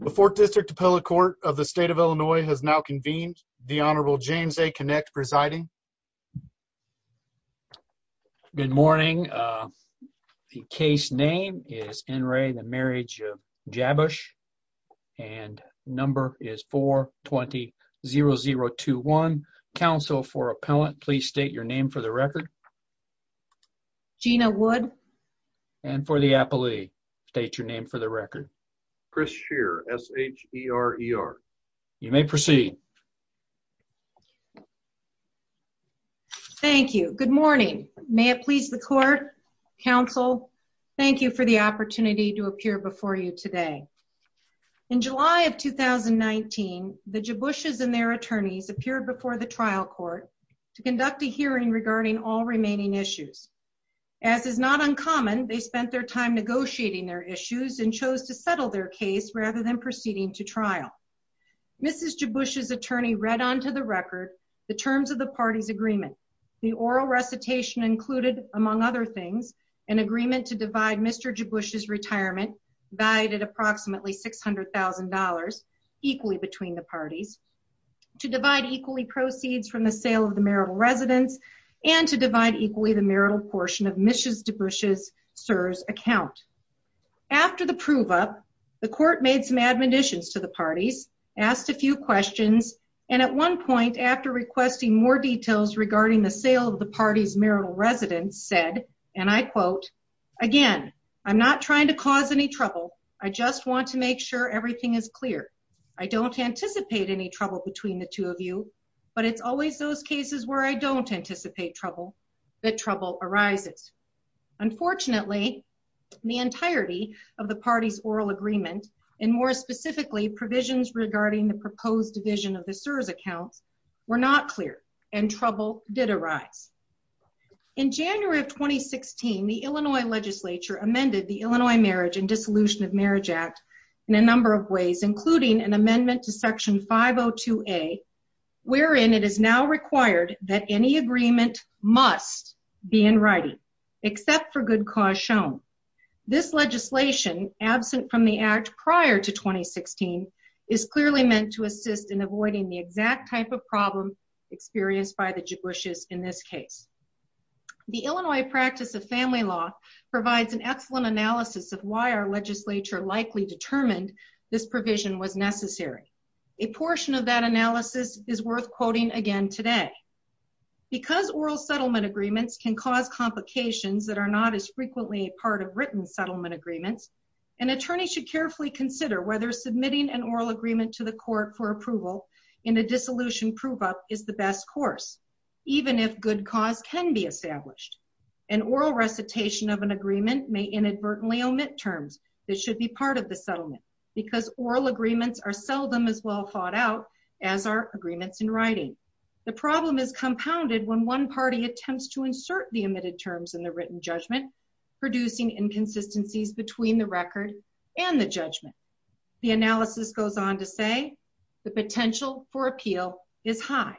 The 4th District Appellate Court of the State of Illinois has now convened. The Honorable James A. Kinect presiding. Good morning. The case name is N. Ray the Marriage of Jabusch and number is 420-0021. Counsel for appellant please state your name for the record. Gina Wood. And for the appellee state your name for the record. Chris Shear. S-H-E-R-E-R. You may proceed. Thank you. Good morning. May it please the court, counsel, thank you for the opportunity to appear before you today. In July of 2019 the Jabush's and their attorneys appeared before the trial court to conduct a hearing regarding all remaining issues. As is not uncommon they spent their time negotiating their issues and chose to settle their case rather than proceeding to trial. Mrs. Jabush's attorney read onto the record the terms of the party's agreement. The oral recitation included, among other things, an agreement to divide Mr. Jabush's retirement valued at approximately $600,000 equally between the parties, to divide equally proceeds from the sale of the marital residence, and to divide equally the marital portion of Mrs. Jabush's account. After the prove-up, the court made some admonitions to the parties, asked a few questions, and at one point after requesting more details regarding the sale of the party's marital residence said, and I quote, again, I'm not trying to cause any trouble, I just want to make sure everything is clear. I don't anticipate any trouble between the two of you, but it's always those cases where I don't anticipate trouble that trouble arises. Unfortunately, the entirety of the party's oral agreement, and more specifically provisions regarding the proposed division of the CSRS accounts, were not clear and trouble did arise. In January of 2016, the Illinois legislature amended the Illinois Marriage and Dissolution of Marriage Act in a number of ways, including an amendment to Section 502A, wherein it is now required that any agreement must be in writing, except for good cause shown. This legislation, absent from the act prior to 2016, is clearly meant to assist in avoiding the exact type of problem experienced by the Jabush's in this case. The Illinois practice of family law provides an excellent analysis of why our legislature likely determined this provision was necessary. A portion of that analysis is worth quoting again today. Because oral settlement agreements can cause complications that are not as frequently a part of written settlement agreements, an attorney should carefully consider whether submitting an oral agreement to the court for approval in a dissolution prove-up is the best course, even if good cause can be established. An oral recitation of an agreement may inadvertently omit terms that should be part of the settlement, because oral agreements are seldom as well thought out as our agreements in writing. The problem is compounded when one party attempts to insert the omitted terms in the written judgment, producing inconsistencies between the record and the judgment. The analysis goes on to say the potential for appeal is high.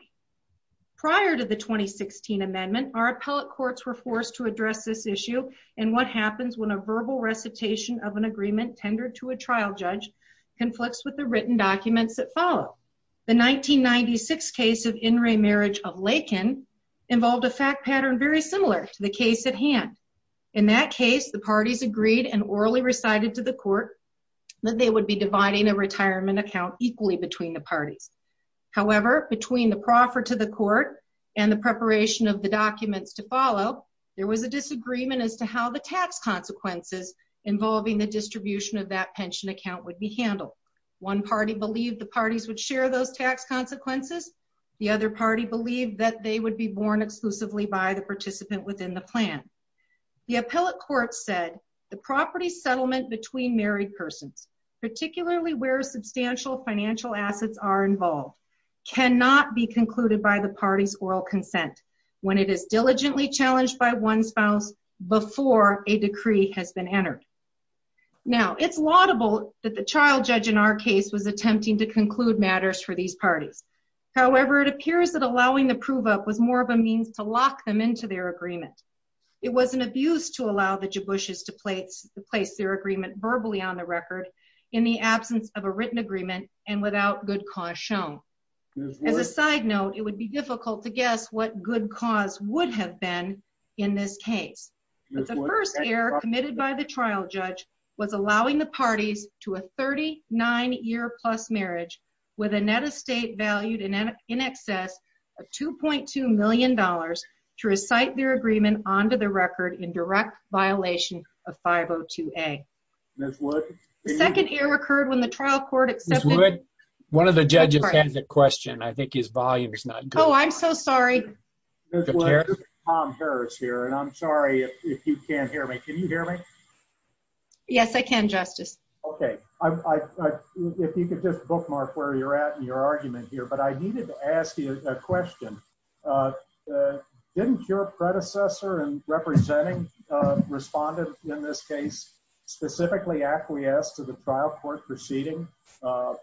Prior to the 2016 amendment, our appellate courts were forced to address this issue and what happens when a verbal recitation of an agreement tendered to a trial judge conflicts with the written documents that follow. The 1996 case of In Re Marriage of Lakin involved a fact pattern very similar to the case at hand. In that case, the parties agreed and orally recited to the court that they would be dividing a retirement account equally between the parties. However, between the proffer to the court and the preparation of the documents to how the tax consequences involving the distribution of that pension account would be handled. One party believed the parties would share those tax consequences. The other party believed that they would be borne exclusively by the participant within the plan. The appellate court said the property settlement between married persons, particularly where substantial financial assets are involved, cannot be concluded by the party's oral consent when it is diligently challenged by one spouse before a decree has been entered. Now, it's laudable that the child judge in our case was attempting to conclude matters for these parties. However, it appears that allowing the prove-up was more of a means to lock them into their agreement. It was an abuse to allow the Jiboushes to place their agreement verbally on the record in the absence of a written agreement and without good cause shown. As a side note, it would be difficult to guess what good cause would have been in this case. The first error committed by the trial judge was allowing the parties to a 39-year-plus marriage with a net estate valued in excess of $2.2 million to recite their agreement onto the record in direct violation of 502A. The second error occurred when the trial court One of the judges has a question. I think his volume is not good. Oh, I'm so sorry. Tom Harris here, and I'm sorry if you can't hear me. Can you hear me? Yes, I can, Justice. Okay, if you could just bookmark where you're at in your argument here, but I needed to ask you a question. Didn't your predecessor and representing respondent in this case specifically acquiesce to the trial court proceeding in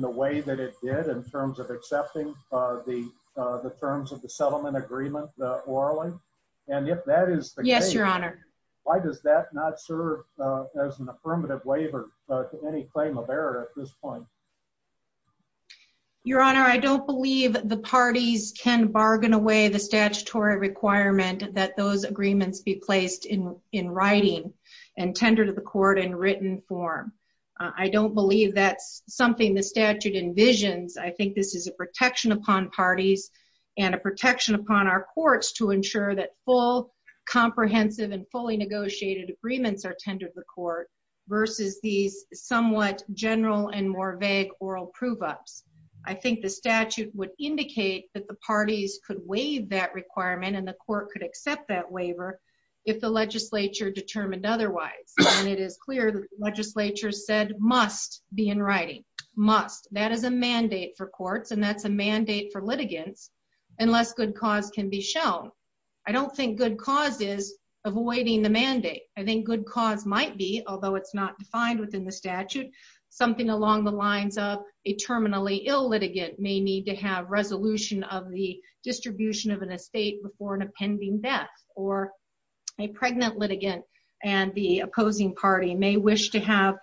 the way that it did in terms of accepting the terms of the settlement agreement orally? And if that is the case, why does that not serve as an affirmative waiver to any claim of error at this point? Your honor, I don't believe the parties can bargain away the statutory requirement that those agreements be placed in in writing and tender to the court in written form. I don't believe that's something the statute envisions. I think this is a protection upon parties and a protection upon our courts to ensure that full comprehensive and fully negotiated agreements are tendered to the court versus these somewhat general and more vague oral prove-ups. I think the statute would indicate that the parties could waive that requirement and the court could accept that waiver if the legislature determined otherwise. And it is clear that the legislature said must be in writing. Must. That is a mandate for courts and that's a mandate for litigants unless good cause can be shown. I don't think good cause is avoiding the mandate. I think good cause might be, although it's not defined within the statute, something along the lines of a terminally ill litigant may need to have resolution of the distribution of an estate before an appending death or a pregnant litigant and the opposing party may wish to have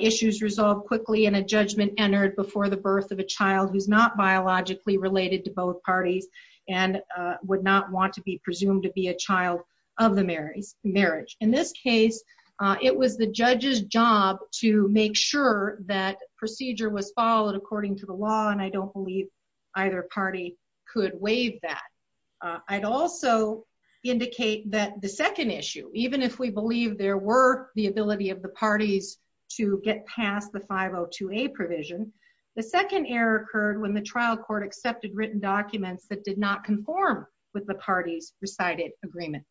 issues resolved quickly and a judgment entered before the birth of a child who's not biologically related to both parties and would not want to be presumed to be a child of the marriage. In this case, it was the judge's job to make sure that procedure was followed according to the law and I don't believe either party could waive that. I'd also indicate that the second issue, even if we believe there were the ability of the parties to get past the 502A provision, the second error occurred when the trial court accepted written documents that did not conform with the party's recited agreement.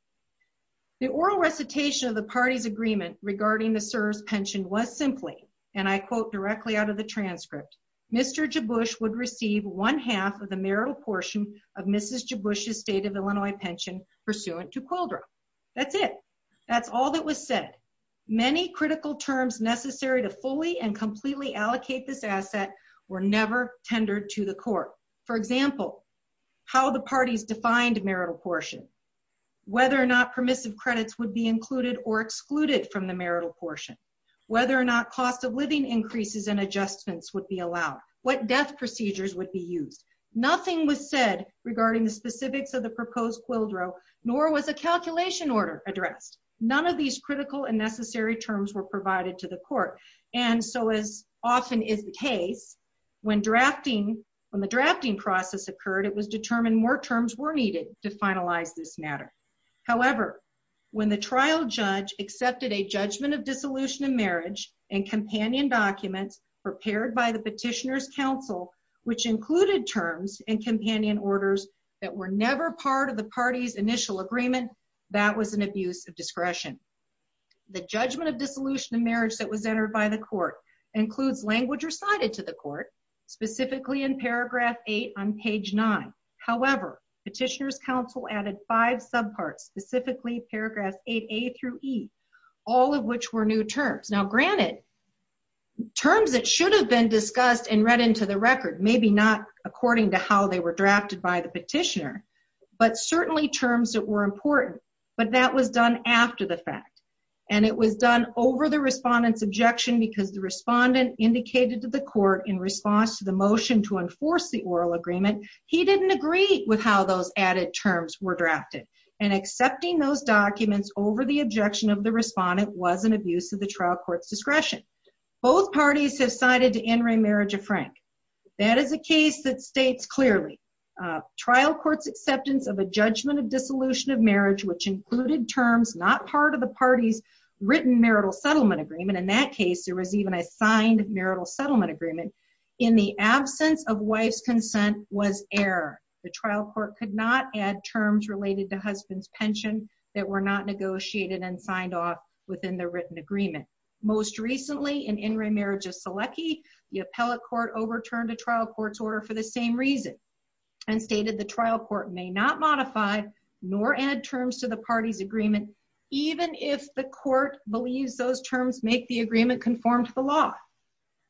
The oral recitation of the party's agreement regarding the CSRS pension was simply, and I quote directly out of the transcript, Mr. Jabush would receive one half of the marital portion of Mrs. Jabush's state of Illinois pension pursuant to QLDRA. That's it. That's all that was said. Many critical terms necessary to fully and completely allocate this asset were never tendered to the court. For example, how the parties defined marital portion, whether or not permissive credits would be included or excluded from the marital portion, whether or not cost of living increases and adjustments would be allowed, what death procedures would be used. Nothing was said regarding the specifics of the proposed QLDRA, nor was a calculation order addressed. None of these critical and necessary terms were provided to the court. And so, as often is the case, when drafting, when the drafting process occurred, it was determined more terms were needed to finalize this matter. However, when the trial judge accepted a judgment of dissolution of marriage and companion documents prepared by the Petitioner's Council, which included terms and companion orders that were never part of the party's initial agreement, that was an abuse of discretion. The judgment of dissolution of marriage that was entered by the court includes language recited to the court, specifically in paragraph 8 on page 9. However, Petitioner's Council added five subparts, specifically paragraphs 8a through e, all of which were new terms. Now, granted, terms that should have been discussed and read into the record, maybe not according to how they were drafted by the petitioner, but certainly terms that were important, but that was done after the fact, and it was done over the respondent's objection because the respondent indicated to the court in response to the motion to enforce the oral agreement, he didn't agree with how those added terms were drafted. And accepting those documents over the objection of the respondent was an abuse of the trial court's discretion. Both parties have cited to in re marriage a frank. That is a case that states clearly trial court's acceptance of a judgment of dissolution of marriage, which included terms not part of the party's written marital settlement agreement, in that case there was even a signed marital settlement agreement, in the absence of wife's consent was error. The trial court could not add terms related to husband's pension that were not negotiated and signed off within the written agreement. Most recently, in in re marriage of Selecki, the appellate court overturned a trial court's order for the same reason, and stated the trial court may not modify nor add terms to the party's agreement, even if the court believes those terms make the agreement conform to the law.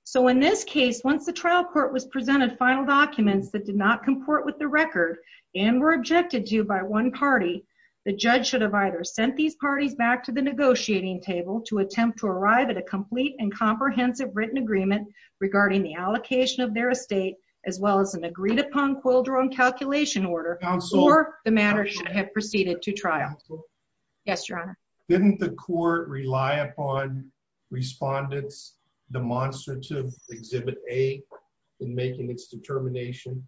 So in this case, once the trial court was presented final documents that did not comport with the record, and were objected to by one party, the judge should have either sent these parties back to the negotiating table to attempt to arrive at a complete and comprehensive written agreement regarding the allocation of their estate, as well as an agreed upon quildron calculation order, or the matter should have proceeded to trial. Yes your honor. Didn't the court rely upon Respondents Demonstrative Exhibit A in making its determination?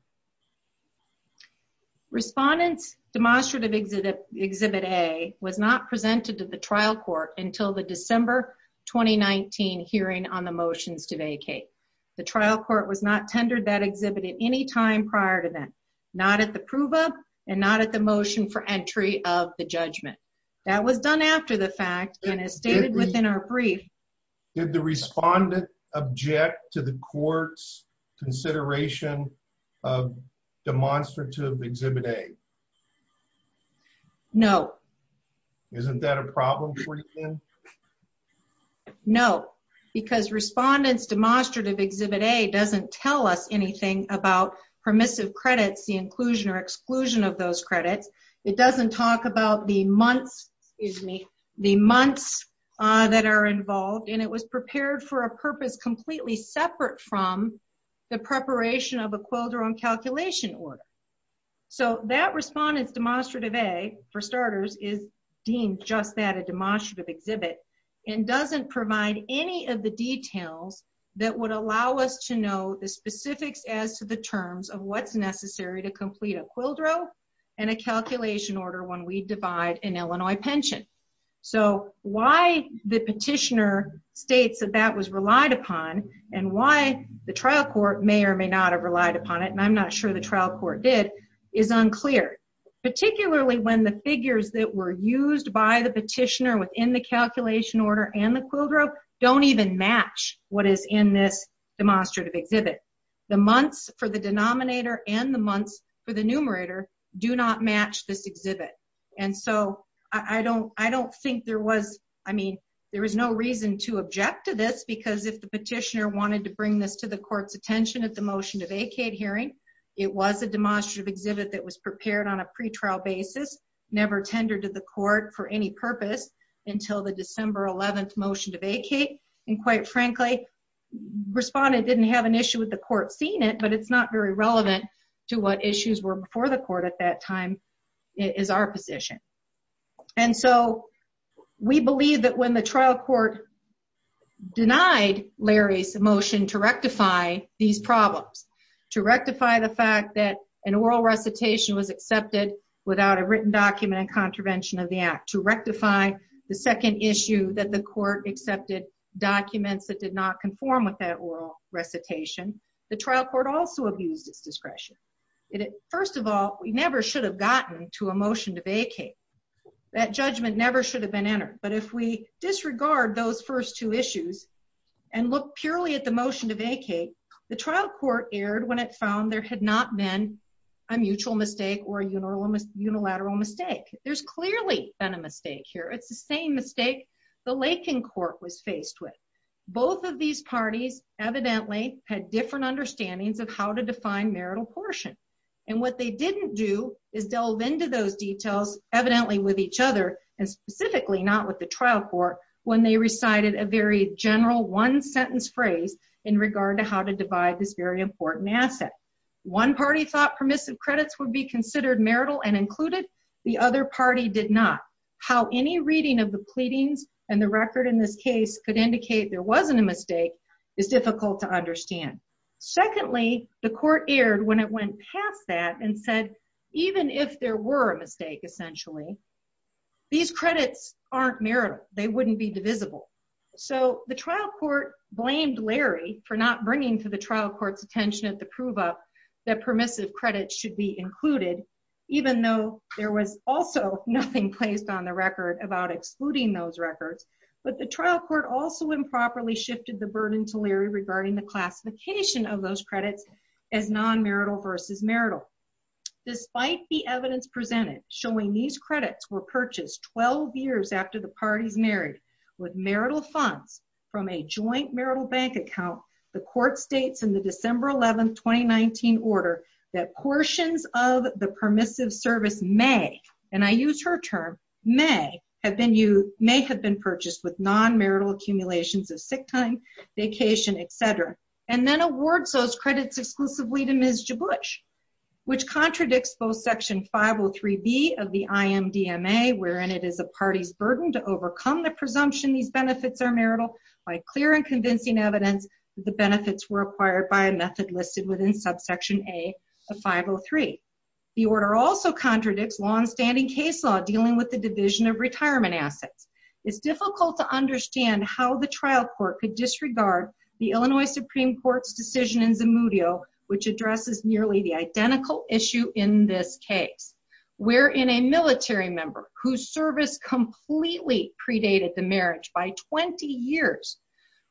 Respondents Demonstrative Exhibit A was not presented to the trial court until the December 2019 hearing on the motions to vacate. The trial court was not tendered that exhibit at any time prior to that, not at the prove-up, and not at the motion for entry of the judgment. That was done after the fact and is stated within our brief. Did the respondent object to the court's consideration of Demonstrative Exhibit A? No. Isn't that a problem for you then? No, because Respondents Demonstrative Exhibit A doesn't tell us anything about permissive credits, the inclusion or the months that are involved, and it was prepared for a purpose completely separate from the preparation of a quildron calculation order. So that Respondents Demonstrative A, for starters, is deemed just that, a demonstrative exhibit, and doesn't provide any of the details that would allow us to know the specifics as to the terms of what's necessary to complete a quildro and a calculation order when we divide an Illinois pension. So why the petitioner states that that was relied upon and why the trial court may or may not have relied upon it, and I'm not sure the trial court did, is unclear, particularly when the figures that were used by the petitioner within the calculation order and the quildro don't even match what is in this demonstrative exhibit. The months for the denominator and the do not match this exhibit, and so I don't think there was, I mean, there was no reason to object to this because if the petitioner wanted to bring this to the court's attention at the motion to vacate hearing, it was a demonstrative exhibit that was prepared on a pretrial basis, never tendered to the court for any purpose until the December 11th motion to vacate, and quite frankly, Respondent didn't have an issue with the court seeing it, but it's not very relevant to what issues were before the court at that time, is our position, and so we believe that when the trial court denied Larry's motion to rectify these problems, to rectify the fact that an oral recitation was accepted without a written document and contravention of the act, to rectify the second issue that the court accepted documents that did not conform with that recitation, the trial court also abused its discretion. First of all, we never should have gotten to a motion to vacate. That judgment never should have been entered, but if we disregard those first two issues and look purely at the motion to vacate, the trial court erred when it found there had not been a mutual mistake or a unilateral mistake. There's clearly been a mistake here. It's the same mistake the Lakin court was faced with. Both of these parties evidently had different understandings of how to define marital portion, and what they didn't do is delve into those details evidently with each other, and specifically not with the trial court when they recited a very general one-sentence phrase in regard to how to divide this very important asset. One party thought permissive credits would be considered marital and included. The other party did not. How any reading of the pleadings and the record in this case could indicate there wasn't a mistake is difficult to understand. Secondly, the court erred when it went past that and said even if there were a mistake, essentially, these credits aren't marital. They wouldn't be divisible. So the trial court blamed Larry for not bringing to the trial court's attention at the prove-up that permissive credits should be included, even though there was also nothing placed on the record about excluding those records. But the trial court also improperly shifted the burden to Larry regarding the classification of those credits as non-marital versus marital. Despite the evidence presented showing these credits were purchased 12 years after the parties married with marital funds from a joint marital bank account, the court states in the December 11, 2019 order that portions of the permissive service may, and I use her term, may have been purchased with non-marital accumulations of sick time, vacation, etc., and then awards those credits exclusively to Ms. Jiblish, which contradicts both Section 503b of the IMDMA, wherein it is a party's burden to overcome the presumption these benefits are marital by clear and convincing evidence the benefits were acquired by a method listed within Subsection A of 503. The order also contradicts non-standing case law dealing with the division of retirement assets. It's difficult to understand how the trial court could disregard the Illinois Supreme Court's decision in Zamudio, which addresses nearly the identical issue in this case, wherein a military member whose service completely predated the marriage by 20 years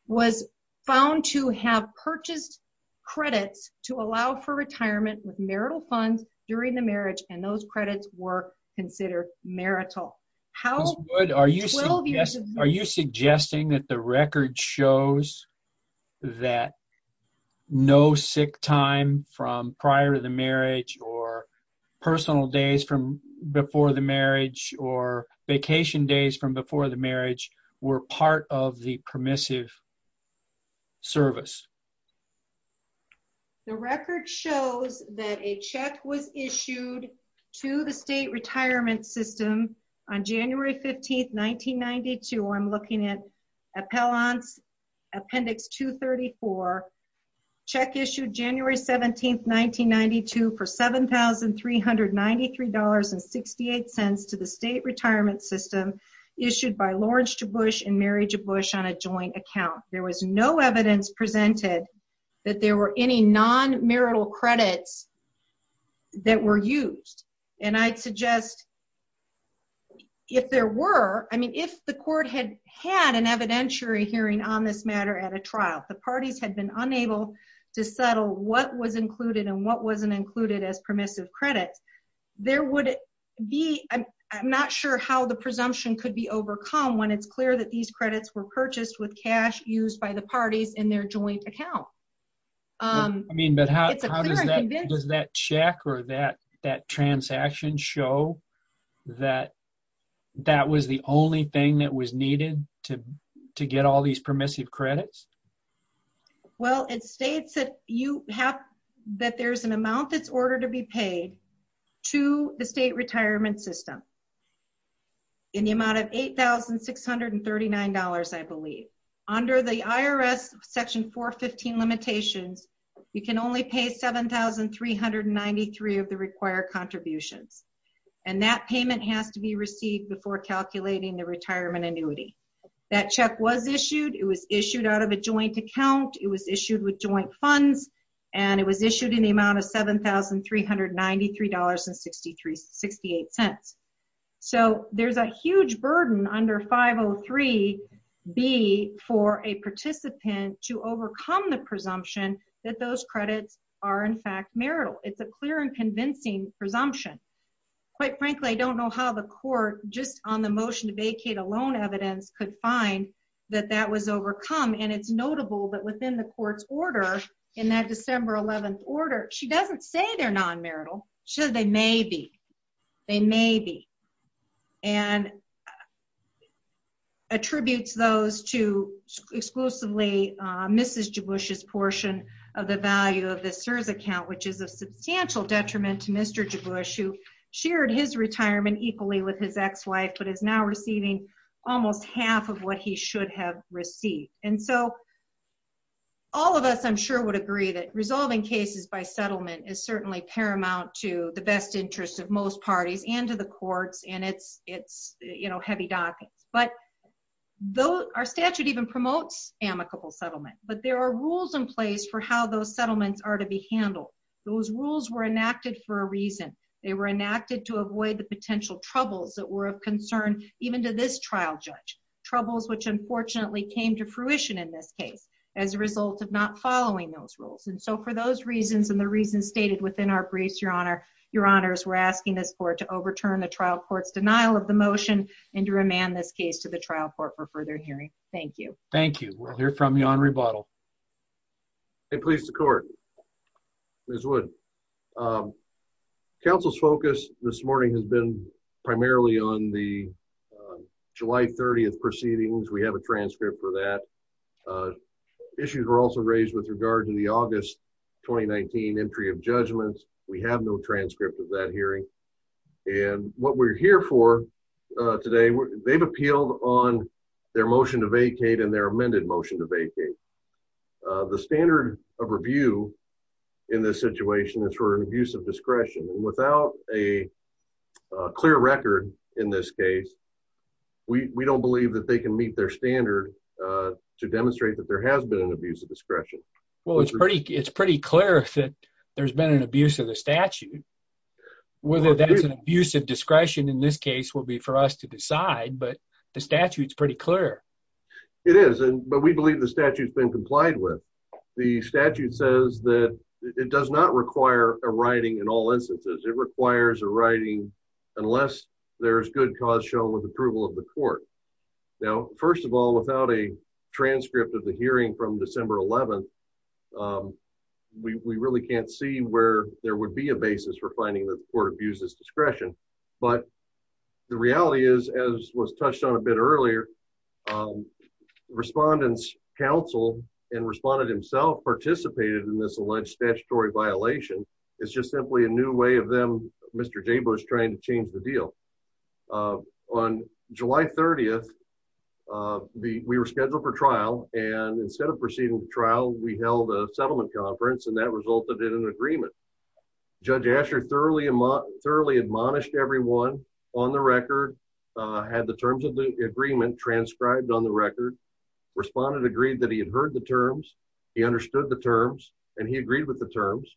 was found to have purchased credits to allow for retirement with marital funds during the marriage and those credits were considered marital. How good are you, are you suggesting that the record shows that no sick time from prior to the marriage or personal days from before the marriage or vacation days from before the marriage were part of the permissive service? The record shows that a check was issued to the state retirement system on January 15, 1992. I'm looking at Appellant's Appendix 234. Check issued January 17, 1992 for $7,393.68 to the state retirement system issued by Lawrence J. Bush and Mary J. Bush on a joint account. There was no evidence presented that there were any non-marital credits that were used and I'd suggest if there were, I mean if the court had had an evidentiary hearing on this matter at a trial, the parties had been unable to settle what was included and what wasn't included as permissive credits, there would be, I'm not sure how the presumption could be overcome when it's clear that these credits were purchased with cash used by the parties in their joint account. I mean but how does that check or that that transaction show that that was the only thing that was needed to to get all these permissive credits? Well it states that you have that there's an amount that's ordered to be in the amount of $8,639 I believe. Under the IRS Section 415 limitations, you can only pay $7,393 of the required contributions and that payment has to be received before calculating the retirement annuity. That check was issued, it was issued out of a joint account, it was issued with joint funds and it was issued in the amount of $7,393.68. So there's a huge burden under 503-B for a participant to overcome the presumption that those credits are in fact marital. It's a clear and convincing presumption. Quite frankly I don't know how the court just on the motion to vacate a loan evidence could find that that was overcome and it's notable that within the court's order in that December 11th order, she doesn't say they're non-marital, she says they may be, they may be and attributes those to exclusively Mrs. Jiboush's portion of the value of the CSRS account which is a substantial detriment to Mr. Jiboush who shared his retirement equally with his ex-wife but is now receiving almost half of what he should have received. And so all of us I'm sure would agree that resolving cases by settlement is certainly paramount to the best interests of most parties and to the courts and it's it's you know heavy dockings but though our statute even promotes amicable settlement but there are rules in place for how those settlements are to be handled. Those rules were enacted for a reason. They were enacted to avoid the potential troubles that were of concern even to this trial judge. Troubles which unfortunately came to fruition in this case as a result of not following those rules and so for those reasons and the reasons stated within our briefs, your honor, your honors, we're asking this court to overturn the trial court's denial of the motion and to remand this case to the trial court for further hearing. Thank you. Thank you. We'll hear from you on rebuttal. I please the court. Ms. Wood. Council's focus this morning has been primarily on the July 30th proceedings. We have a transcript for that. Issues were also raised with regard to the August 2019 entry of judgments. We have no transcript of that hearing and what we're here for today they've appealed on their motion to vacate and their amended motion to vacate. The standard of review in this situation is for an abuse of discretion and without a clear record in this case we we don't believe that they can meet their standard to demonstrate that there has been an abuse of discretion. Well it's pretty it's pretty clear that there's been an abuse of the statute. Whether that's an abuse of discretion in this case will be for us to decide but the statute's pretty clear. It is and but we believe the statute's been complied with. The statute says that it does not require a writing in all instances. It requires a writing unless there's good cause shown with approval of the court. Now first of all without a transcript of the hearing from December 11th we we really can't see where there would be a basis for finding that the court abuses discretion but the reality is as was touched on a bit earlier respondents counsel and responded himself participated in this alleged statutory violation. It's just simply a new way of them Mr. Jaber's trying to change the deal. On July 30th the we were scheduled for trial and instead of proceeding to trial we held a settlement conference and that resulted in an agreement. Judge Asher thoroughly thoroughly admonished everyone on the record had the terms of the agreement transcribed on the record. Respondent agreed that he had heard the terms he understood the terms and he agreed with the terms.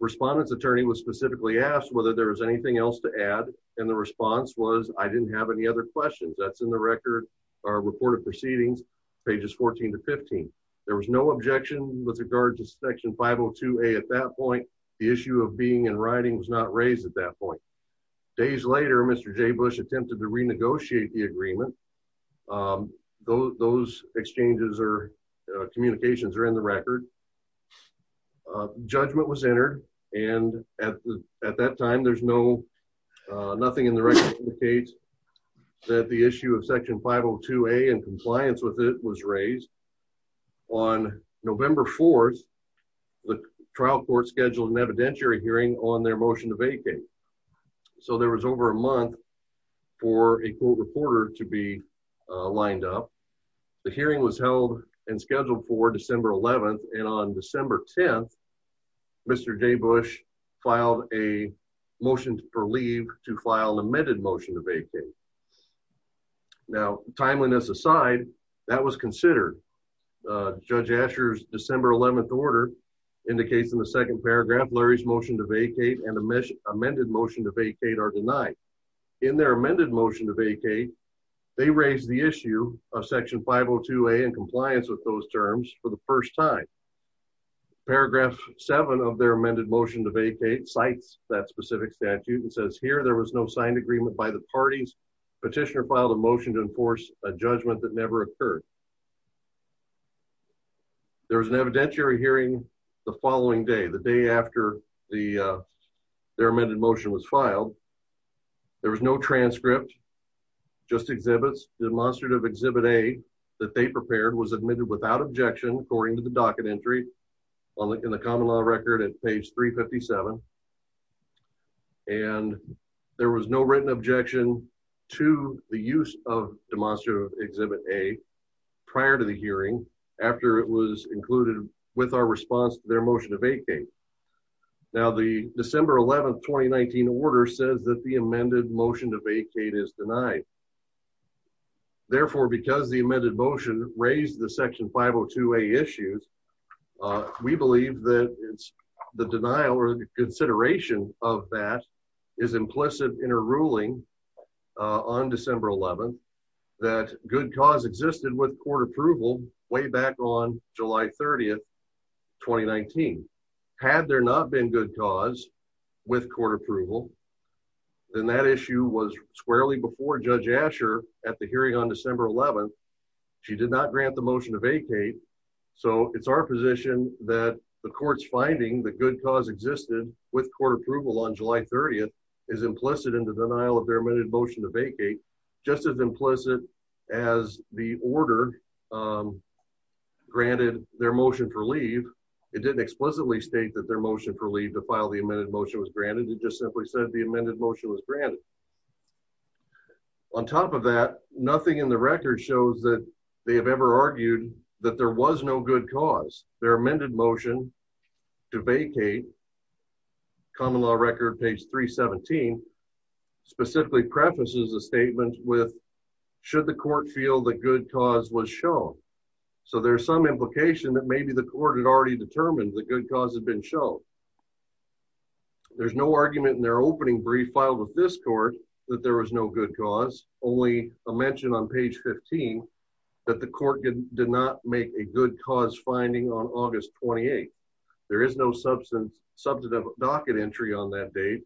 Respondent's attorney was specifically asked whether there was anything else to add and the response was I didn't have any other questions that's in the record or reported proceedings pages 14 to 15. There was no objection with regard to section 502a at that point. The issue of being in writing was not raised at that point. Days later Mr. Jaber attempted to renegotiate the agreement. Those exchanges or communications are in the record. Judgment was entered and at that time there's no nothing in the record indicates that the issue of section 502a and compliance with it was raised. On November 4th the trial court scheduled an evidentiary hearing on their motion to vacate. So there was over a month for a court reporter to be lined up. The hearing was held and scheduled for December 11th and on December 10th Mr. J Bush filed a motion for leave to file an amended motion to vacate. Now timeliness aside that was considered. Judge Asher's December 11th order indicates in the second paragraph Larry's motion to vacate and amended motion to vacate are denied. In their amended motion to vacate they raised the issue of section 502a and compliance with those terms for the first time. Paragraph 7 of their amended motion to vacate cites that specific statute and says here there was no signed agreement by the parties. Petitioner filed a motion to enforce a judgment that never occurred. There was an evidentiary hearing the following day the day after the their amended motion was filed. There was no transcript just exhibits demonstrative exhibit a that they prepared was admitted without objection according to the docket entry in the common law record at page 357. And there was no written objection to the use of demonstrative exhibit a prior to the hearing after it was included with our response to their motion to vacate. Now the December 11th 2019 order says that the amended motion to vacate is denied. Therefore because the amended motion raised the section 502a issues we believe that it's the denial or consideration of that is implicit in a ruling on December 11th that good cause existed with court approval way back on July 30th 2019. Had there not been good cause with court approval then that issue was squarely before Judge Asher at the hearing on December 11th. She did not grant the motion to vacate so it's our position that the court's finding the good cause existed with court approval on July 30th is implicit in the denial of their amended motion to vacate just as implicit as the order granted their motion for leave. It didn't explicitly state that their motion for leave to file the amended motion was granted it just simply said the amended motion was granted. On top of that nothing in the record shows that they have ever argued that there was no good cause. Their amended motion to vacate common law record page 317 specifically prefaces a statement with should the court feel the good cause was shown. So there's some implication that maybe the court had already determined the good cause had been shown. There's no argument in their opening brief filed with this court that there was no good cause only a mention on page 15 that the court did not make a good cause finding on August 28th. There is no substantive docket entry on that date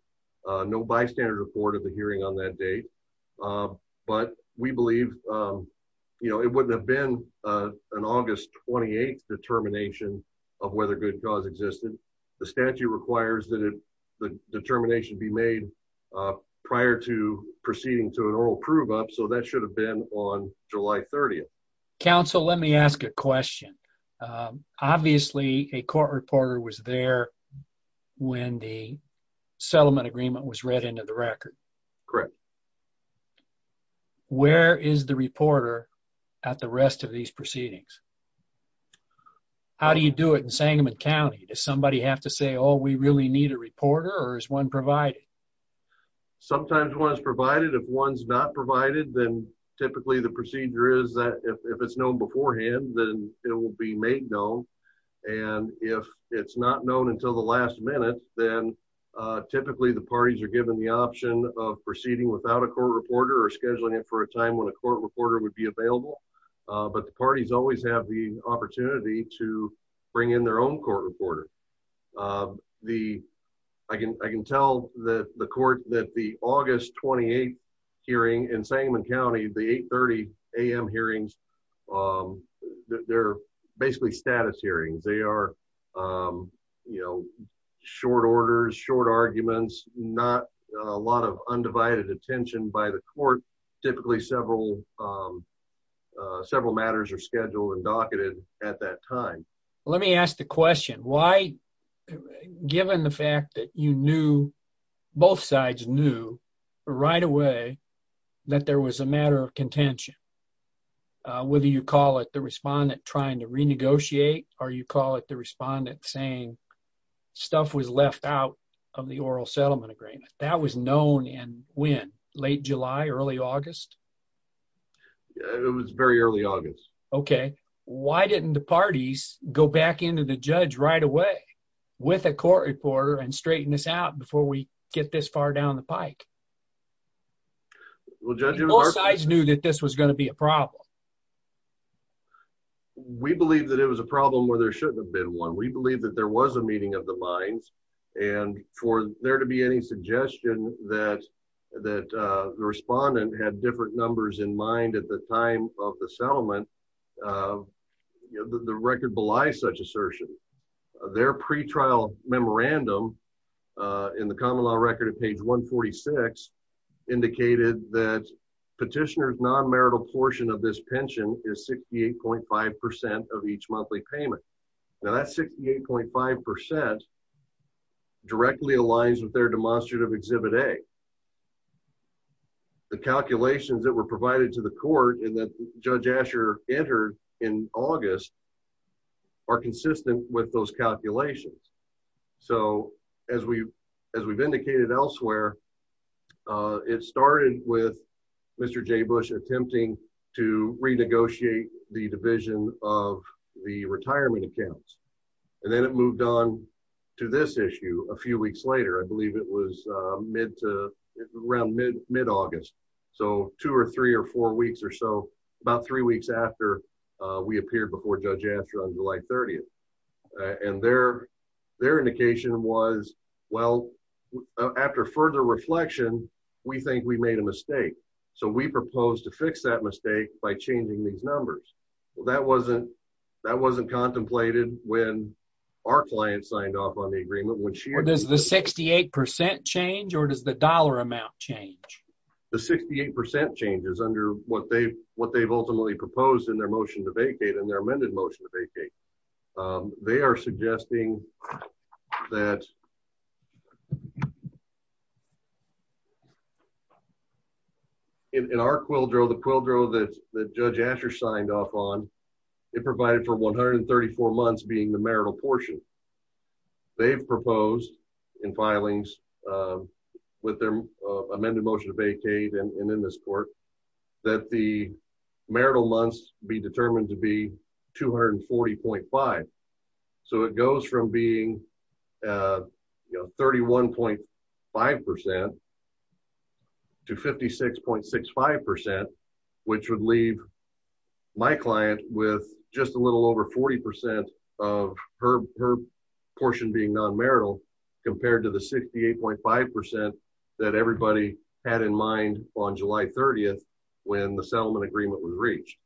no bystander report of the hearing on that date but we believe you know it wouldn't have been an August 28th determination of whether good cause existed. The statute requires that the determination be made prior to proceeding to an oral prove up so that should have been on July 30th. Council let me ask a question. Obviously a court reporter was there when the settlement agreement was read into the record. Correct. Where is the reporter at the rest of these proceedings? How do you do it in Sangamon County? Does somebody have to say oh we really need a reporter or is one provided? Sometimes one is provided if one's not provided then typically the procedure is that if it's known beforehand then it will be made known and if it's not known until the last minute then typically the parties are given the option of proceeding without a court reporter or scheduling it for a time when a court reporter would be available but the parties always have the court reporter. I can tell that the court that the August 28th hearing in Sangamon County the 8 30 a.m. hearings they're basically status hearings they are you know short orders short arguments not a lot of undivided attention by the court typically several several matters are scheduled and docketed at that time. Let me ask the question why given the fact that you knew both sides knew right away that there was a matter of contention whether you call it the respondent trying to renegotiate or you call it the respondent saying stuff was left out of the oral settlement agreement that was known in when? Late July early August? It was very early August. Okay why didn't the parties go back into the judge right away with a court reporter and straighten this out before we get this far down the pike? Both sides knew that this was going to be a problem. We believe that it was a problem where there shouldn't have been one we believe that there was a meeting of the minds and for there to be any suggestion that that the respondent had different numbers in mind at the time of the settlement the record belies such assertion. Their pre-trial memorandum in the common law record at page 146 indicated that petitioner's non-marital portion of this pension is 68.5 percent of each monthly payment. Now that 68.5 percent directly aligns with their demonstrative exhibit A. The calculations that were provided to the court and that Judge Asher entered in August are consistent with those calculations. So as we've indicated elsewhere it started with Mr. J. Bush attempting to renegotiate the division of the retirement accounts and then it moved on to this issue a few weeks later. I believe it was around mid-August. So two or three or four weeks or so about three weeks after we appeared before Judge Asher on July 30th. And their indication was well after further reflection we think we made a mistake. So we propose to fix that mistake by changing these numbers. Well that wasn't contemplated when our client signed off on the agreement. Does the 68 percent change or does the dollar amount change? The 68 percent change is under what they've ultimately proposed in their motion to vacate and their amended motion to vacate. They are suggesting that in our quildro the quildro that Judge Asher signed off on it provided for 134 months being the marital portion. They've proposed in filings with their amended motion to vacate and in this court that the marital months be determined to be 240.5. So it goes from being 31.5 percent to 56.65 percent which would leave my client with just a little over 40 percent of her portion being non-marital compared to the 68.5 percent that everybody had in mind on July 30th when the settlement agreement was reached.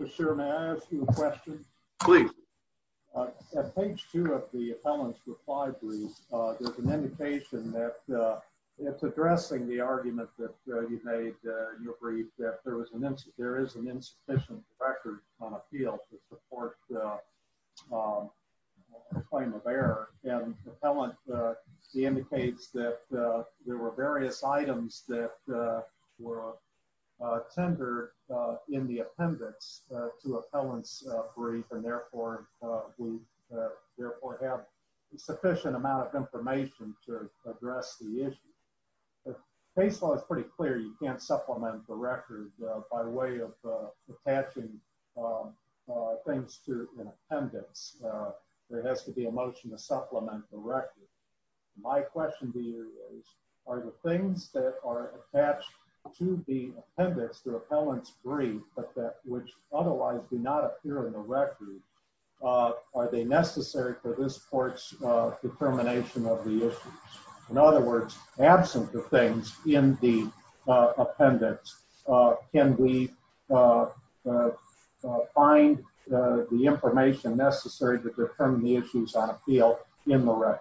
So sir may I ask you a question? Please. At page two of the appellant's reprisory there's an indication that it's your brief that there is an insufficient record on appeal to support the claim of error and the appellant indicates that there were various items that were tendered in the appendix to appellant's brief and therefore we therefore have a sufficient amount of information to supplement the record by way of attaching things to an appendix. There has to be a motion to supplement the record. My question to you is are the things that are attached to the appendix to appellant's brief but that which otherwise do not appear in the record are they necessary for this court's determination of the issues? In other words, absent the things in the appendix can we find the information necessary to determine the issues on appeal in the record?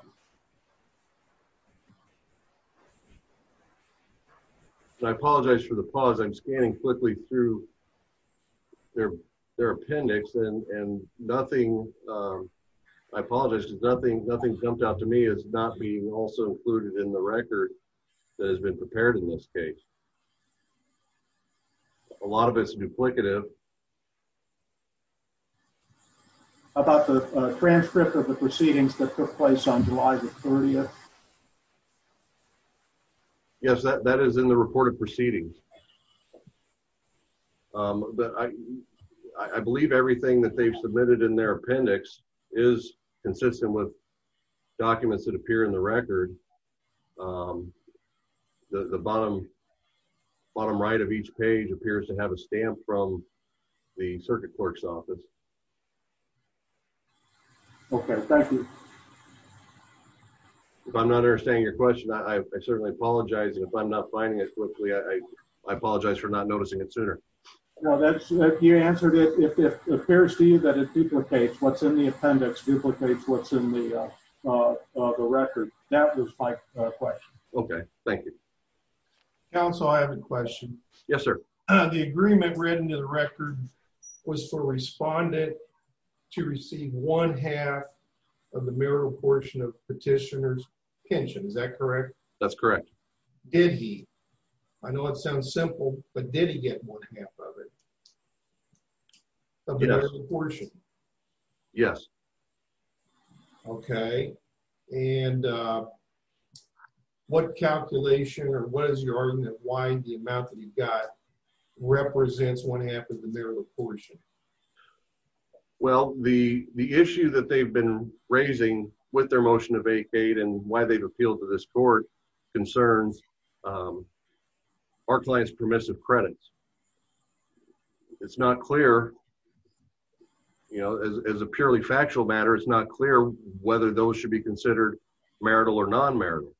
I apologize for the pause. I'm scanning quickly through their appendix and nothing, I apologize, nothing jumped out to me as not being also included in the record that has been prepared in this case. A lot of it's duplicative. About the transcript of the proceedings that took place on July the 30th? Yes, that is in the report of proceedings. But I believe everything that they've submitted in their appendix is consistent with documents that appear in the record. The bottom right of each page appears to have a stamp from the circuit clerk's office. Okay, thank you. If I'm not understanding your question I certainly apologize if I'm not finding it quickly. I apologize for not noticing it sooner. No, that's you answered it if it duplicates what's in the appendix, duplicates what's in the record. That was my question. Okay, thank you. Counsel, I have a question. Yes, sir. The agreement written to the record was for respondent to receive one half of the marital portion of petitioner's pension. Is that correct? That's correct. Did he? I know it sounds simple, but did he get one half of it? Yes. Of the marital portion? Yes. Okay, and what calculation or what is your argument why the amount that he got represents one half of the marital portion? Well, the issue that they've been raising with their motion to vacate and why they've appealed to this court concerns our client's permissive credits. It's not clear, you know, as a purely factual matter, it's not clear whether those should be considered marital or non-marital.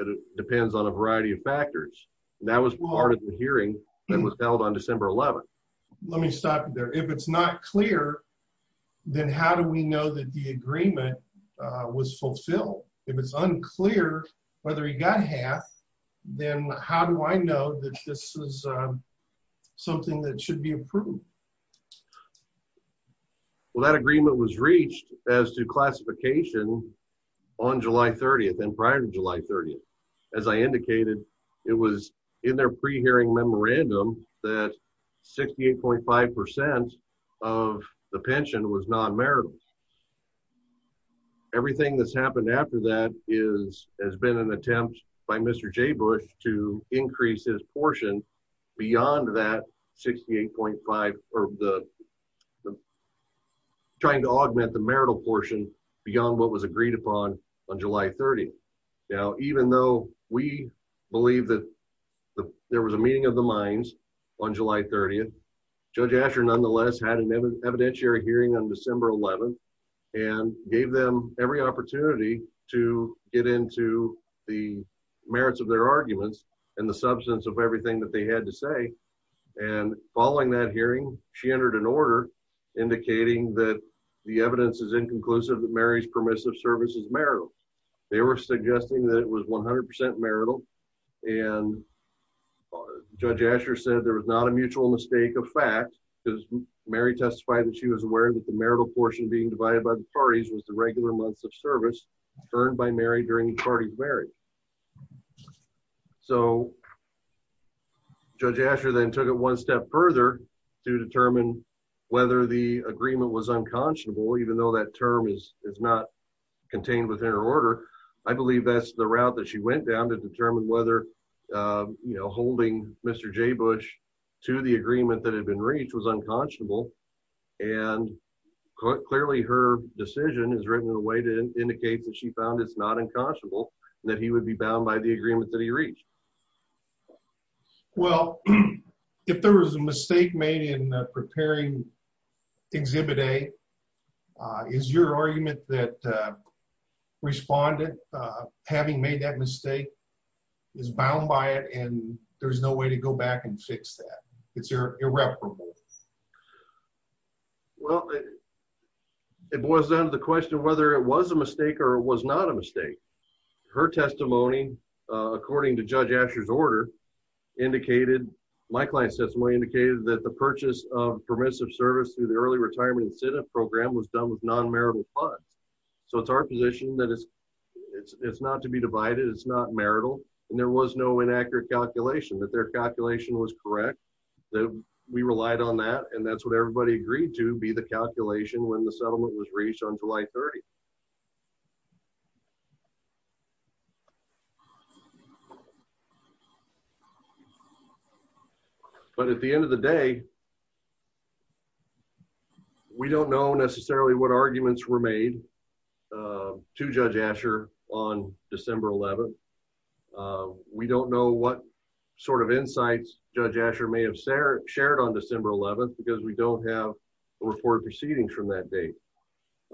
It depends on a variety of factors. That was part of the hearing that was held on December 11th. Let me stop there. If it's not clear, then how do we know that the agreement was fulfilled? If it's unclear whether he got half, then how do I know that this is something that should be approved? Well, that agreement was reached as to classification on July 30th and prior to July 30th. As I indicated, it was in their pre-hearing memorandum that 68.5 percent of the pension was non-marital. Everything that's happened after that has been an attempt by Mr. J. Bush to increase his portion beyond that 68.5 or the trying to augment the marital portion beyond what was agreed upon on July 30th. Now, even though we believe that there was a meeting of minds on July 30th, Judge Asher nonetheless had an evidentiary hearing on December 11th and gave them every opportunity to get into the merits of their arguments and the substance of everything that they had to say. Following that hearing, she entered an order indicating that the evidence is inconclusive that Mary's permissive service is marital. They were suggesting that it was 100 percent marital and Judge Asher said there was not a mutual mistake of fact because Mary testified that she was aware that the marital portion being divided by the parties was the regular months of service earned by Mary during the party's marriage. So Judge Asher then took it one step further to determine whether the agreement was unconscionable even though that term is is not contained within her order. I determined whether, you know, holding Mr. J. Bush to the agreement that had been reached was unconscionable and clearly her decision is written in a way to indicate that she found it's not unconscionable and that he would be bound by the agreement that he reached. Well, if there was a mistake made in preparing Exhibit A, is your argument that respondent having made that mistake is bound by it and there's no way to go back and fix that? It's irreparable. Well, it boils down to the question whether it was a mistake or it was not a mistake. Her testimony according to Judge Asher's order indicated, my client's testimony indicated, that the purchase of permissive service through the early retirement incentive program was done with non-marital funds. So it's our position that it's not to be divided, it's not marital and there was no inaccurate calculation, that their calculation was correct, that we relied on that and that's what everybody agreed to be the calculation when the settlement was reached on July 30. But at the end of the day, we don't know necessarily what arguments were made to Judge Asher on December 11th. We don't know what sort of insights Judge Asher may have shared on December 11th because we don't have a report of proceedings from that date.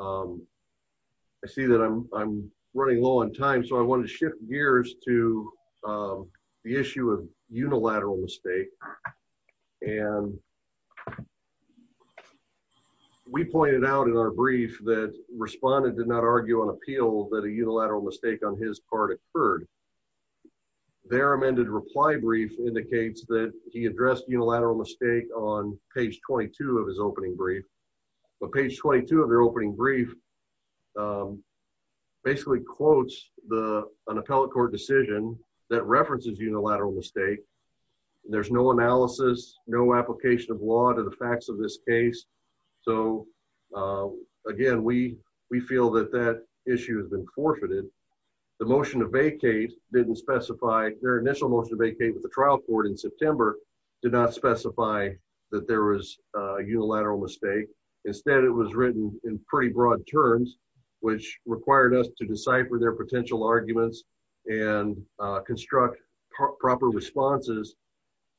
I see that I'm running low on time so I wanted to shift gears to the issue of unilateral mistake and we pointed out in our brief that respondent did not argue on appeal that a unilateral mistake on his part occurred. Their amended reply brief indicates that he addressed unilateral mistake on page 22 of his opening brief. But page 22 of their opening brief basically quotes the an appellate court decision that references unilateral mistake. There's no analysis, no application of law to the facts of this case. So again, we feel that that issue has been forfeited. The motion to vacate didn't specify, their initial motion to vacate with the trial court in September did not specify that there was a unilateral mistake. Instead, it was written in pretty broad terms which required us to decipher their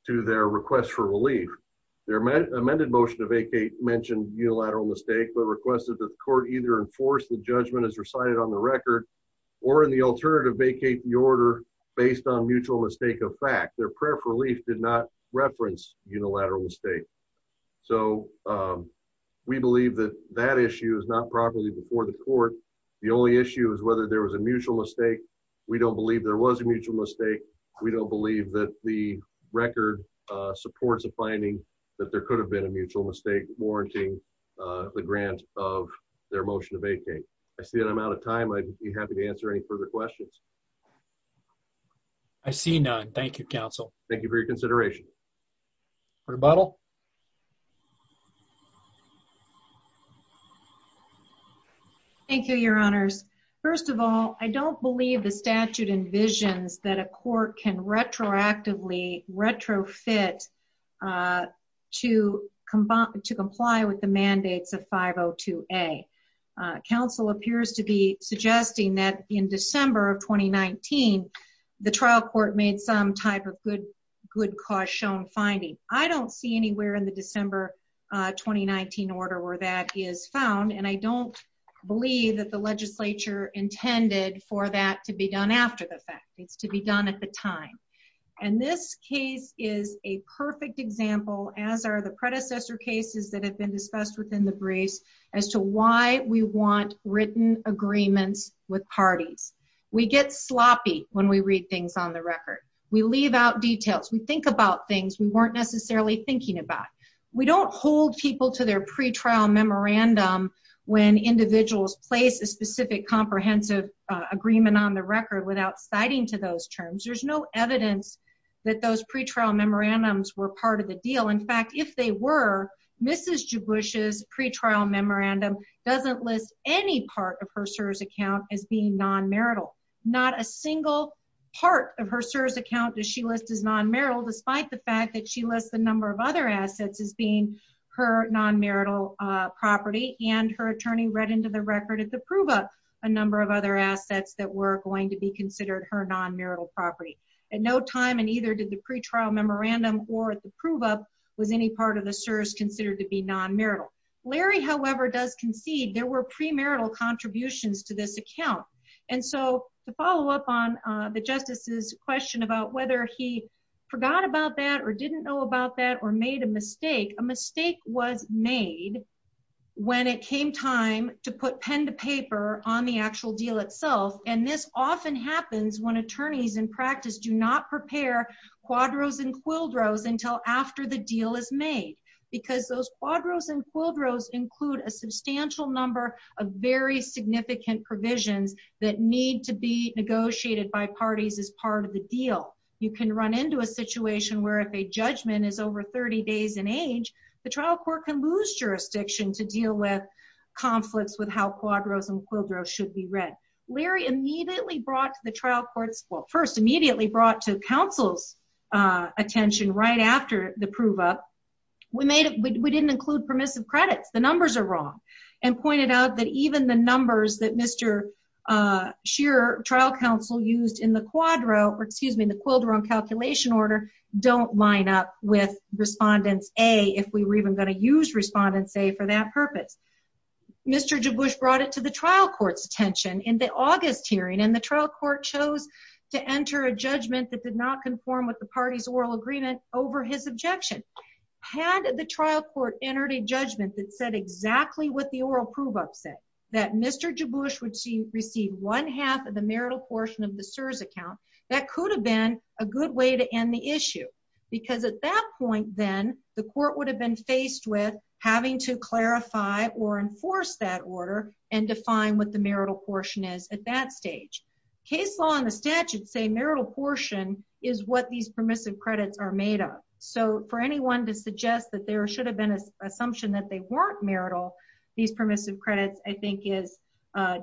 to their request for relief. Their amended motion to vacate mentioned unilateral mistake but requested that the court either enforce the judgment as recited on the record or in the alternative vacate the order based on mutual mistake of fact. Their prayer for relief did not reference unilateral mistake. So we believe that that issue is not properly before the court. The only issue is whether there was a mutual mistake. We don't believe there was a mutual mistake. We don't believe that the record supports a finding that there could have been a mutual mistake warranting the grant of their motion to vacate. I see that I'm out of time. I'd be happy to answer any further questions. I see none. Thank you, counsel. Thank you for your consideration. Rebuttal. Thank you, your honors. First of all, I don't believe the statute envisions that a court can retroactively retrofit to comply with the mandates of 502A. Council appears to be suggesting that in December of 2019, the trial court made some type of good good cause shown finding. I don't see anywhere in the December 2019 order where that is found and I don't believe that the legislature intended for that to be done after the fact. It's to be done at the time. And this case is a perfect example, as are the predecessor cases that have been discussed within the briefs, as to why we want written agreements with parties. We get sloppy when we read things on the record. We leave out details. We think about things we weren't necessarily thinking about. We don't hold people to their pre-trial memorandum when individuals place a specific comprehensive agreement on the record without citing to those terms. There's no evidence that those pre-trial memorandums were part of the deal. In fact, if they were, Mrs. Jebush's pre-trial memorandum doesn't list any part of her CSRS account as being non-marital. Not a single part of her CSRS account does she list as non-marital, despite the fact that she lists the number of other assets as being her non-marital property and her attorney read into the record at the time that she did the pre-trial memorandum. At no time in either did the pre-trial memorandum or the prove-up was any part of the CSRS considered to be non-marital. Larry, however, does concede there were pre-marital contributions to this account. And so, to follow up on the Justice's question about whether he forgot about that or didn't know about that or made a mistake, a mistake was made when it came time to put pen to paper on the actual deal itself, and this often happens when attorneys in practice do not prepare quadros and quildros until after the deal is made, because those quadros and quildros include a substantial number of very significant provisions that need to be negotiated by parties as part of the deal. You can run into a situation where if a judgment is over 30 days in age, the trial court can lose jurisdiction to deal with how quadros and quildros should be read. Larry immediately brought to the trial court's, well, first immediately brought to counsel's attention right after the prove-up, we made it, we didn't include permissive credits, the numbers are wrong, and pointed out that even the numbers that Mr. Shearer, trial counsel, used in the quadro, or excuse me, the quildro and calculation order, don't line up with Respondents A if we were even going to use Respondents A for that purpose. Mr. Jaboush brought it to the trial court's attention in the August hearing, and the trial court chose to enter a judgment that did not conform with the party's oral agreement over his objection. Had the trial court entered a judgment that said exactly what the oral prove-up said, that Mr. Jaboush would receive one-half of the marital portion of the CSRS account, that could have been a good way to end the issue, because at that point then, the court would have been faced with having to clarify or enforce that order and define what the marital portion is at that stage. Case law and the statute say marital portion is what these permissive credits are made of, so for anyone to suggest that there should have been an assumption that they weren't marital, these permissive credits, I think, is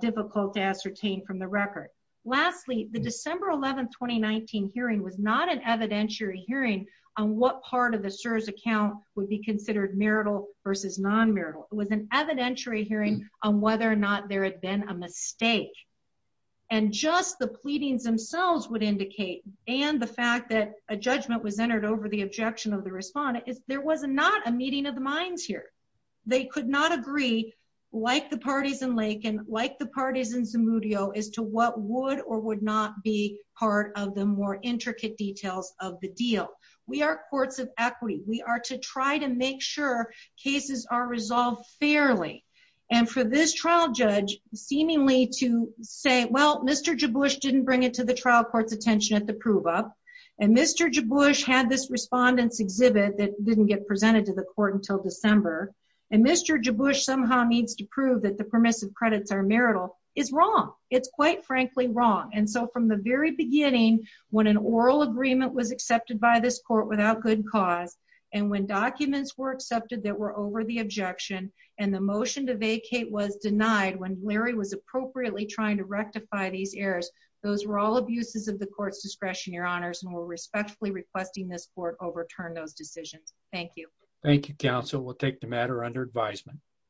difficult to ascertain from the record. Lastly, the December 11, 2019 hearing was not an evidentiary hearing on what part of the CSRS account would be considered marital versus non-marital. It was an evidentiary hearing on whether or not there had been a mistake, and just the pleadings themselves would indicate, and the fact that a judgment was entered over the objection of the respondent, is there was not a meeting of the minds here. They could not agree, like the parties in Lakin, like the parties in Zamudio, as to what would or would not be part of the more intricate details of the deal. We are courts of equity. We are to try to make sure cases are resolved fairly, and for this trial judge, seemingly to say, well, Mr. Jabush didn't bring it to the trial court's attention at the prove-up, and Mr. Jabush had this respondent's exhibit that didn't get presented to the court until December, and Mr. Jabush somehow needs to prove that the permissive credits are marital, is wrong. It's quite frankly wrong, and so from the very beginning, when an oral agreement was accepted by this court without good cause, and when documents were accepted that were over the objection, and the motion to vacate was denied when Larry was appropriately trying to rectify these errors, those were all abuses of the court's discretion, your honors, and we're respectfully requesting this court overturn those decisions. Thank you. Thank you, counsel. We'll take the matter under advisement.